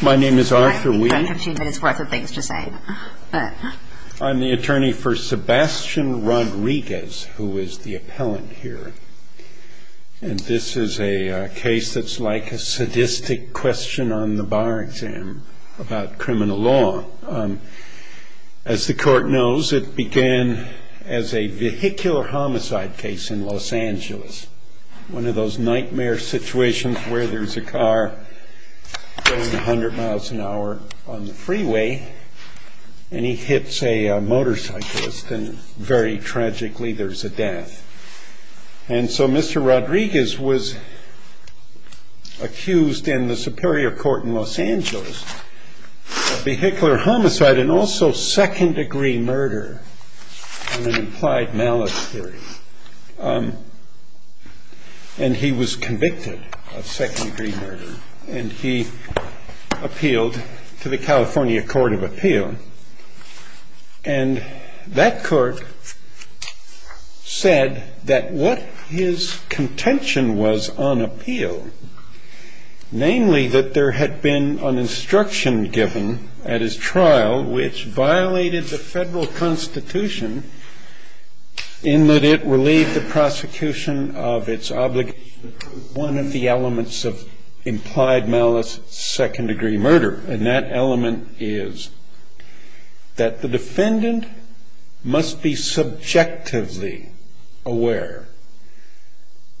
My name is Arthur Weed I'm the attorney for Sebastian Rodriguez who is the appellant here and this is a case that's like a sadistic question on the bar exam about criminal law As the court knows, it began as a vehicular homicide case in Los Angeles It's one of those nightmare situations where there's a car going 100 miles an hour on the freeway and he hits a motorcyclist and very tragically there's a death And so Mr. Rodriguez was accused in the Superior Court in Los Angeles of vehicular homicide and also second degree murder on an implied malice theory and he was convicted of second degree murder and he appealed to the California Court of Appeal and that court said that what his contention was on appeal namely that there had been an instruction given at his trial which violated the federal constitution in that it relieved the prosecution of its obligation to prove one of the elements of implied malice second degree murder and that element is that the defendant must be subjectively aware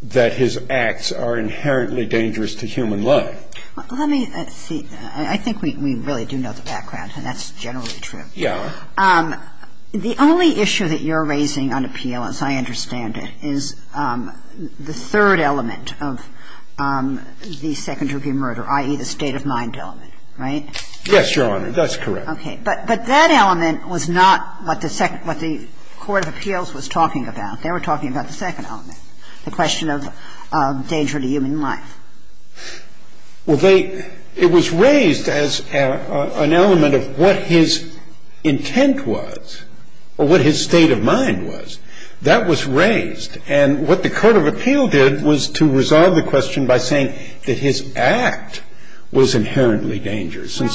that his acts are inherently dangerous to human life Let me see, I think we really do know the background and that's generally true The only issue that you're raising on appeal as I understand it is the third element of the second degree murder i.e. the state of mind element, right? Yes, Your Honor, that's correct But that element was not what the Court of Appeals was talking about They were talking about the second element The question of danger to human life It was raised as an element of what his intent was or what his state of mind was That was raised and what the Court of Appeal did was to resolve the question by saying that his act was inherently dangerous Didn't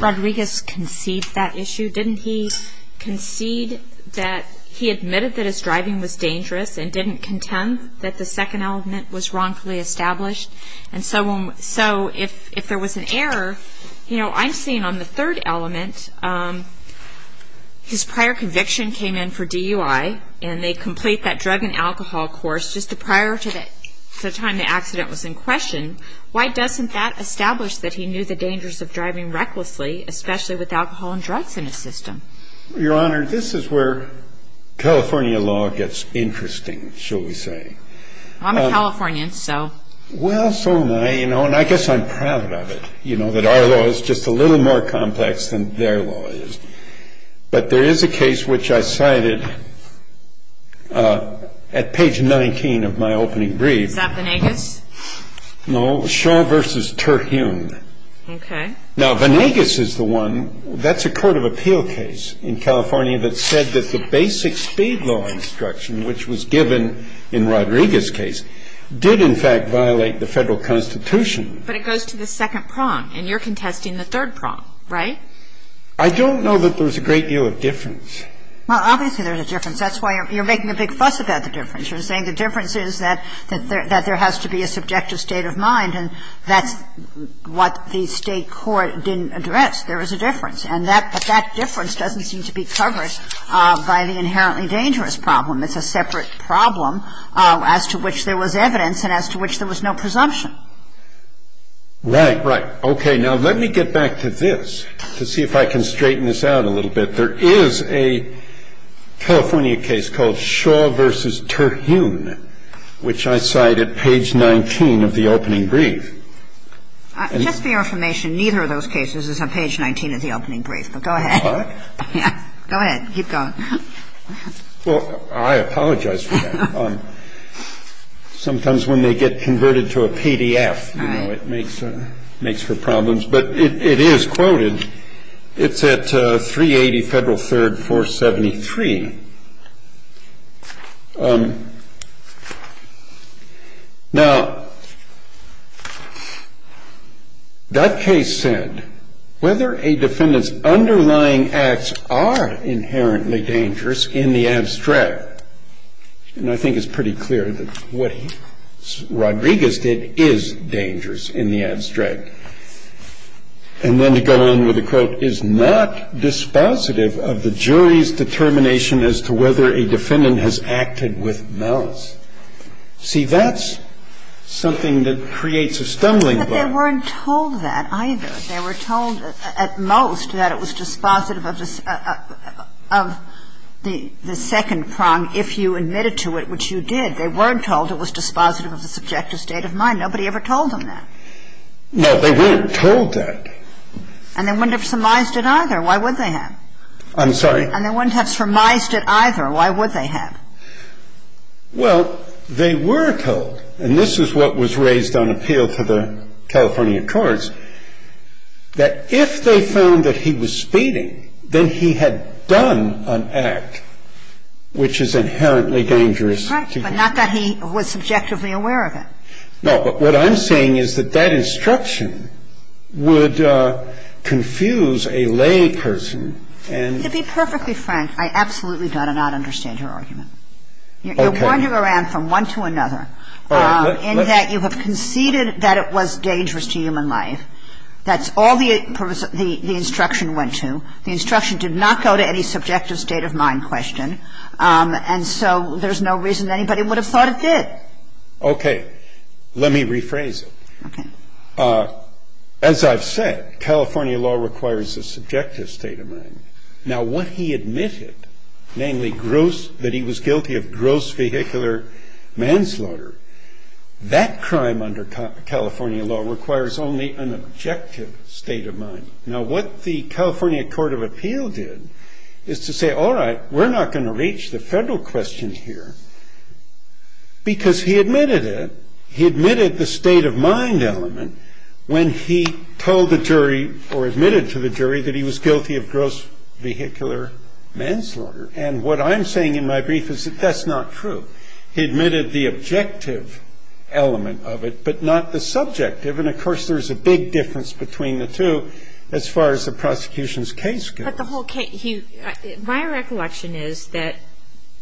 Rodriguez concede that issue? Didn't he concede that he admitted that his driving was dangerous and didn't contend that the second element was wrongfully established? And so if there was an error I'm seeing on the third element his prior conviction came in for DUI and they complete that drug and alcohol course just prior to the time the accident was in question Why doesn't that establish that he knew the dangers of driving recklessly especially with alcohol and drugs in his system? Your Honor, this is where California law gets interesting, shall we say I'm a Californian, so Well, so am I, and I guess I'm proud of it that our law is just a little more complex than their law is But there is a case which I cited at page 19 of my opening brief Is that Vanegas? No, Shaw v. Terhune Okay Now, Vanegas is the one That's a court of appeal case in California that said that the basic speed law instruction which was given in Rodriguez's case did in fact violate the Federal Constitution But it goes to the second prong and you're contesting the third prong, right? I don't know that there's a great deal of difference Well, obviously there's a difference That's why you're making a big fuss about the difference You're saying the difference is that that there has to be a subjective state of mind and that's what the state court didn't address There is a difference But that difference doesn't seem to be covered by the inherently dangerous problem It's a separate problem as to which there was evidence and as to which there was no presumption Right, right Okay, now let me get back to this to see if I can straighten this out a little bit There is a California case called Shaw v. Terhune which I cite at page 19 of the opening brief Just for your information, neither of those cases is on page 19 of the opening brief Go ahead Go ahead, keep going I apologize for that Sometimes when they get converted to a PDF it makes for problems But it is quoted It's at 380 Federal 3rd 473 Now, that case said whether a defendant's underlying acts are inherently dangerous in the abstract and I think it's pretty clear that what Rodriguez did is dangerous in the abstract and then to go on with the quote is not dispositive of the jury's determination as to whether a defendant has acted with malice See, that's something that creates a stumbling block But they weren't told that either They were told at most that it was dispositive of the second prong if you admitted to it, which you did They weren't told it was dispositive of the subjective state of mind Nobody ever told them that No, they weren't told that Why would they have? I'm sorry And they wouldn't have surmised it either Why would they have? Well, they were told and this is what was raised on appeal to the California courts that if they found that he was speeding then he had done an act which is inherently dangerous Right, but not that he was subjectively aware of it No, but what I'm saying is that that instruction would confuse a lay person To be perfectly frank, I absolutely do not understand your argument You're wandering around from one to another in that you have conceded that it was dangerous to human life That's all the instruction went to The instruction did not go to any subjective state of mind question and so there's no reason anybody would have thought it did Okay, let me rephrase it As I've said, California law requires a subjective state of mind Now, what he admitted namely that he was guilty of gross vehicular manslaughter that crime under California law requires only an objective state of mind Now, what the California Court of Appeal did is to say, all right, we're not going to reach the federal question here because he admitted it when he told the jury or admitted to the jury that he was guilty of gross vehicular manslaughter and what I'm saying in my brief is that that's not true He admitted the objective element of it but not the subjective and of course there's a big difference between the two as far as the prosecution's case goes But the whole case, my recollection is that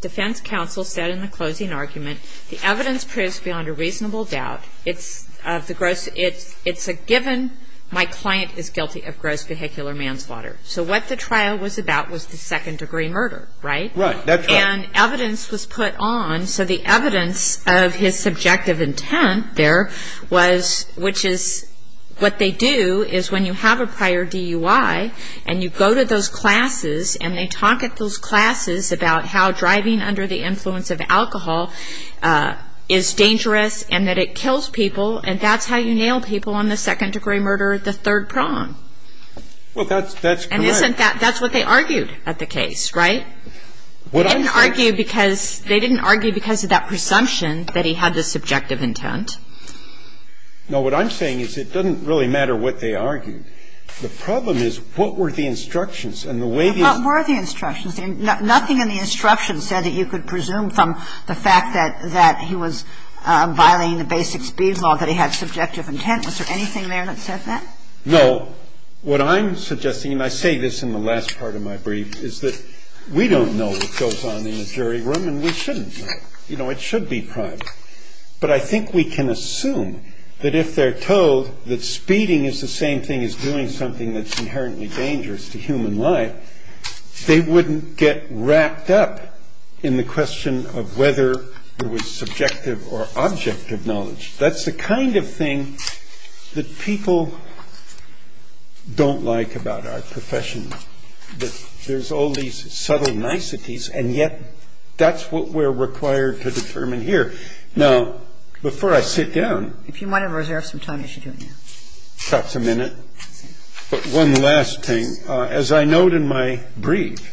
defense counsel said in the closing argument the evidence proves beyond a reasonable doubt It's a given my client is guilty of gross vehicular manslaughter So what the trial was about was the second degree murder, right? Right, that's right And evidence was put on so the evidence of his subjective intent there was which is what they do is when you have a prior DUI and you go to those classes and they talk at those classes about how driving under the influence of alcohol is dangerous and that it kills people and that's how you nail people on the second degree murder, the third prong Well, that's correct And that's what they argued at the case, right? What I'm saying They didn't argue because of that presumption that he had the subjective intent No, what I'm saying is it doesn't really matter what they argued The problem is what were the instructions and the way they What were the instructions? Nothing in the instructions said that you could presume from the fact that he was violating the basic speed law that he had subjective intent Was there anything there that said that? No, what I'm suggesting and I say this in the last part of my brief is that we don't know what goes on in the jury room and we shouldn't know You know, it should be private But I think we can assume that if they're told that speeding is the same thing as doing something that's inherently dangerous to human life that they wouldn't get wrapped up in the question of whether it was subjective or objective knowledge That's the kind of thing that people don't like about our profession There's all these subtle niceties and yet that's what we're required to determine here Now, before I sit down If you want to reserve some time, you should do it now That's a minute But one last thing As I note in my brief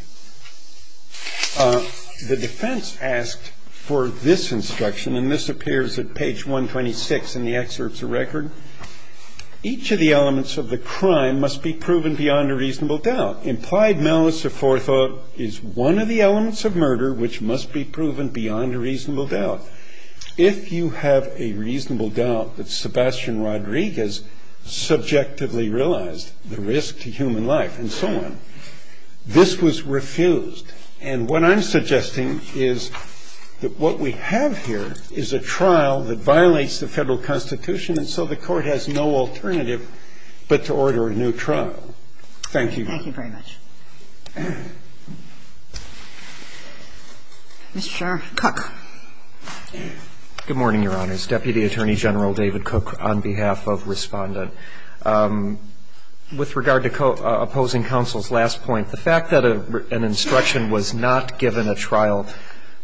the defense asked for this instruction and this appears at page 126 in the excerpts of record Each of the elements of the crime must be proven beyond a reasonable doubt Implied malice of forethought is one of the elements of murder which must be proven beyond a reasonable doubt If you have a reasonable doubt that Sebastian Rodriguez subjectively realized the risk to human life and so on This was refused And what I'm suggesting is that what we have here is a trial that violates the Federal Constitution and so the Court has no alternative but to order a new trial Thank you Thank you very much Mr. Cook Good morning, Your Honors Deputy Attorney General David Cook on behalf of Respondent With regard to opposing counsel's last point the fact that an instruction was not given at trial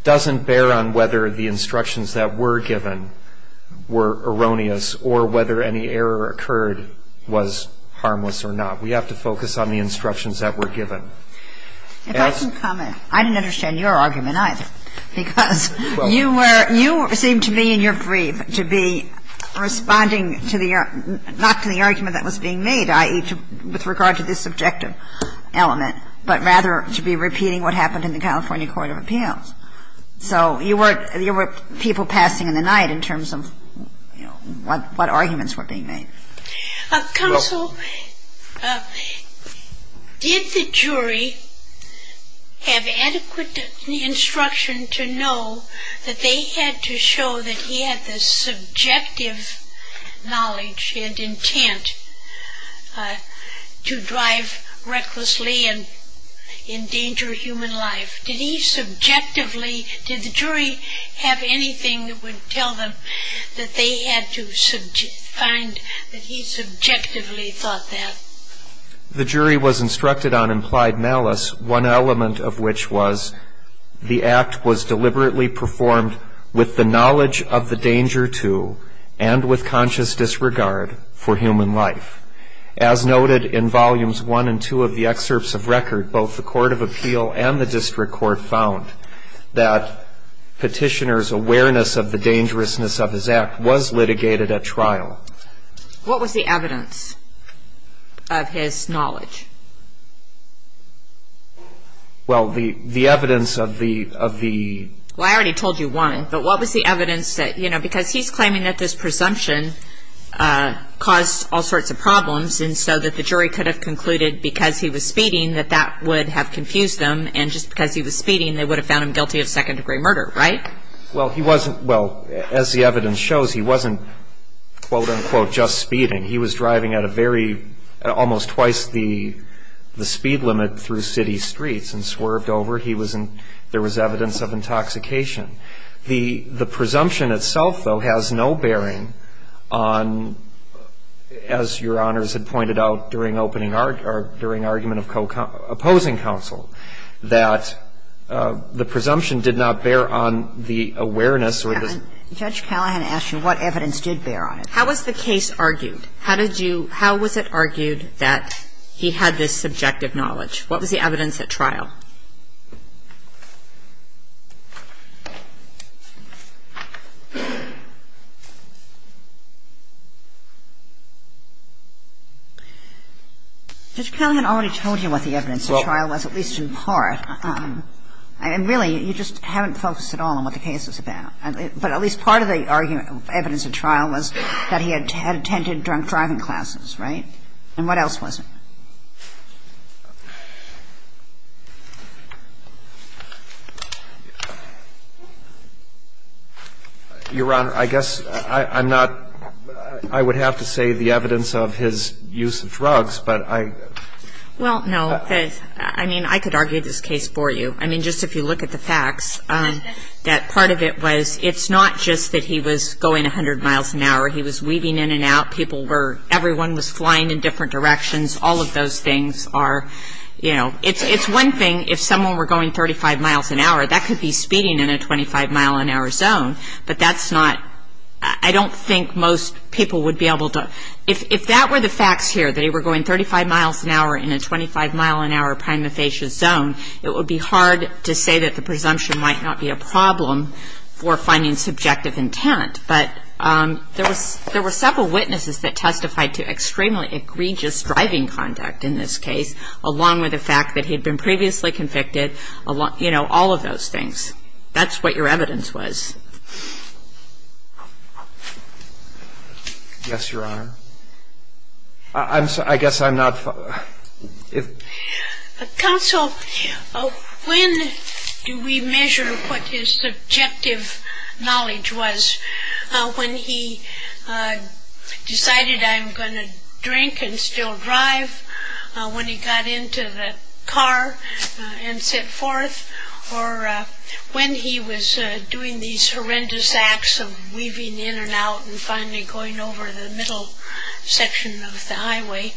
doesn't bear on whether the instructions that were given were erroneous or whether any error occurred was harmless or not We have to focus on the instructions that were given If I can comment I didn't understand your argument either because you seemed to me in your brief to be responding to the not to the argument that was being made i.e. with regard to this subjective element but rather to be repeating what happened in the California Court of Appeals So you were people passing in the night in terms of what arguments were being made Counsel did the jury have adequate instruction to know that they had to show that he had the subjective knowledge and intent to drive recklessly and endanger human life Did he subjectively Did the jury have anything that would tell them that they had to find that he subjectively thought that The jury was instructed on implied malice one element of which was that the act was deliberately performed with the knowledge of the danger to and with conscious disregard for human life As noted in volumes 1 and 2 of the excerpts of record both the Court of Appeal and the District Court found that Petitioner's awareness of the dangerousness of his act was litigated at trial What was the evidence of his knowledge Well the evidence of the Well I already told you one but what was the evidence that you know because he's claiming that this presumption caused all sorts of problems and so that the jury could have concluded because he was speeding that that would have confused them and just because he was speeding they would have found him guilty of second degree murder right Well he wasn't well as the evidence shows he wasn't quote unquote just speeding he was driving at a very almost twice the the speed limit through city streets and swerved over he was in there was evidence of intoxication the the presumption itself though has no bearing on as your honors had pointed out during opening during argument of opposing counsel that the presumption did not bear on the awareness Judge Callahan asked you what evidence did bear on it How was the case argued How did you How was it argued that he had this subjective knowledge What was the evidence at trial Judge Callahan already told you what the evidence at trial was at least in part and really you just haven't focused at all on what the case was about but at least part of the argument evidence at trial was that he had attended drunk driving classes right and what else was it Your Honor I guess I'm not I would have to say the evidence of his use of drugs but I Well no I mean I could argue this case for you I mean just if you look at the facts that part of it was it's not just that he was going a hundred miles an hour he was weaving in and out people were everyone was flying in different directions all of those things are you know it's one thing if someone were going 35 miles an hour that could be speeding in a 25 mile an hour zone but that's not I don't think most people would be able to if that were the facts here that he were going 35 miles an hour in a 25 mile an hour prima facie zone it would be hard to say that the presumption might not be a problem for finding subjective intent but there were several witnesses that testified to extremely egregious driving conduct in this case along with the fact that he had been previously convicted you know all of those things that's what your evidence was Yes Your Honor I guess I'm not Counsel when do we measure what his subjective knowledge was when he decided I'm going to drink and still drive when he got into the car and set forth or when he was doing these horrendous acts of weaving in and out and finally going over the middle section of the highway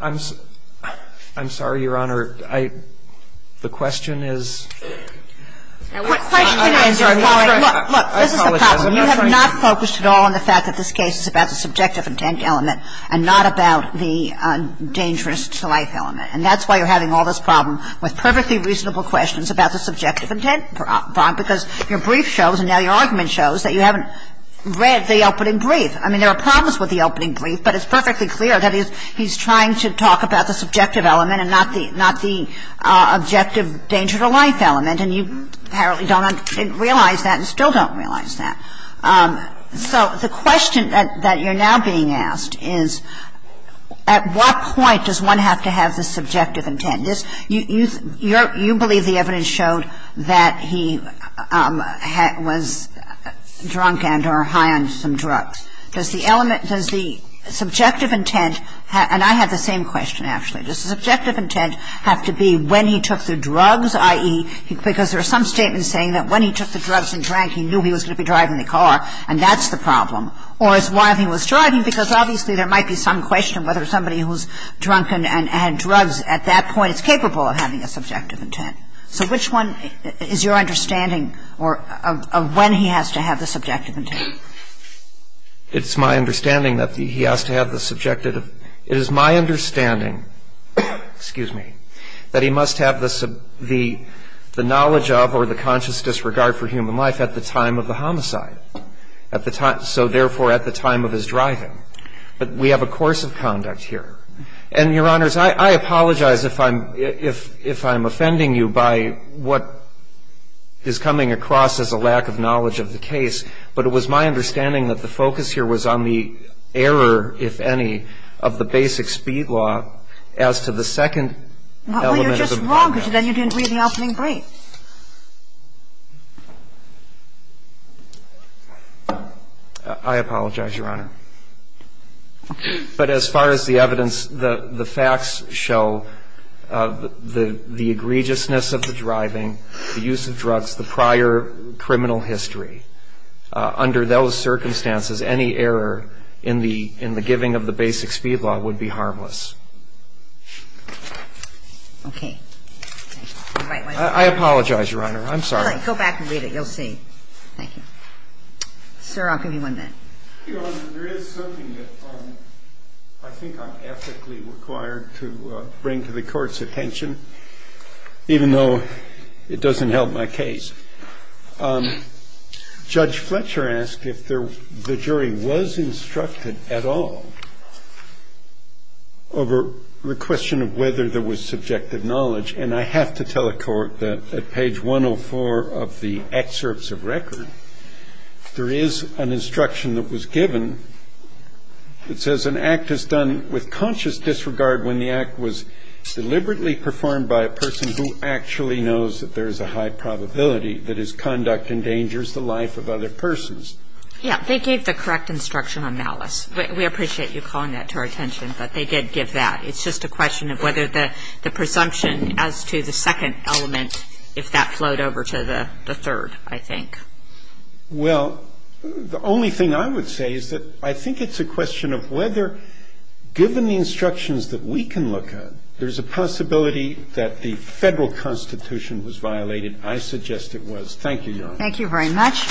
I'm I'm sorry Your Honor the question is look this is the problem you have not focused at all on the fact that this case is about the subjective intent element and not about the dangerous life element and that's why you're having all this problem with perfectly reasonable questions about the subjective intent because your brief shows and now your argument shows that you haven't read the opening brief I mean there are problems with the opening brief but it's perfectly clear that he's trying to talk about the subjective element and not the objective danger to life element and you apparently don't realize that and still don't realize that so the question that you're now being asked is at what point does one have to have the subjective intent you believe the evidence showed that he was drunk and or high on some drugs does the element does the subjective intent and I have the same question actually does the subjective intent have to be when he took the drugs i.e. because there are some statements saying that when he took the drugs and drank he knew he was going to be driving the car and that's the problem or it's while he was driving because obviously there might be some question whether somebody who's drunken and had drugs at that point is capable of having a subjective intent so which one is your understanding of when he has to have the subjective intent it's my understanding that he has to have the subjective it is my understanding excuse me that he must have the knowledge of or the conscious disregard for human life at the time of the homicide so therefore at the time of his driving but we have a course of conduct here and your honors I apologize if I'm offending you by what is coming across as a lack of knowledge of the case but it was my understanding that the focus here was on the error if any of the basic speed law as to the second element you're just wrong because then you didn't read the opening brief I apologize your honor but as far as the evidence the facts show the egregiousness of the driving the use of drugs the prior criminal history under those circumstances any error in the giving of the basic speed law would be harmless okay I apologize your honor I'm sorry go back and read it you'll see thank you sir I'll give you one minute your honor there is something that I think I'm ethically required to bring to the courts attention even though it doesn't help my case judge Fletcher asked if the jury was instructed at all over the question of whether there was subjective knowledge and I have to tell the court that at page 104 of the excerpts of record there is an instruction that was given it says an act is done with conscious disregard when the act was deliberately performed by a person who actually knows that there is a high probability that his conduct endangers the life of other persons yeah they gave the correct instruction on malice we appreciate you calling that to our attention but they did give that it's just a question of whether the presumption as to the second element if that flowed over to the third I think well the only thing I would say is that I think it's a question of whether given the instructions that we can look at there is a possibility that the federal constitution was violated I suggest it was thank you your honor thank you very much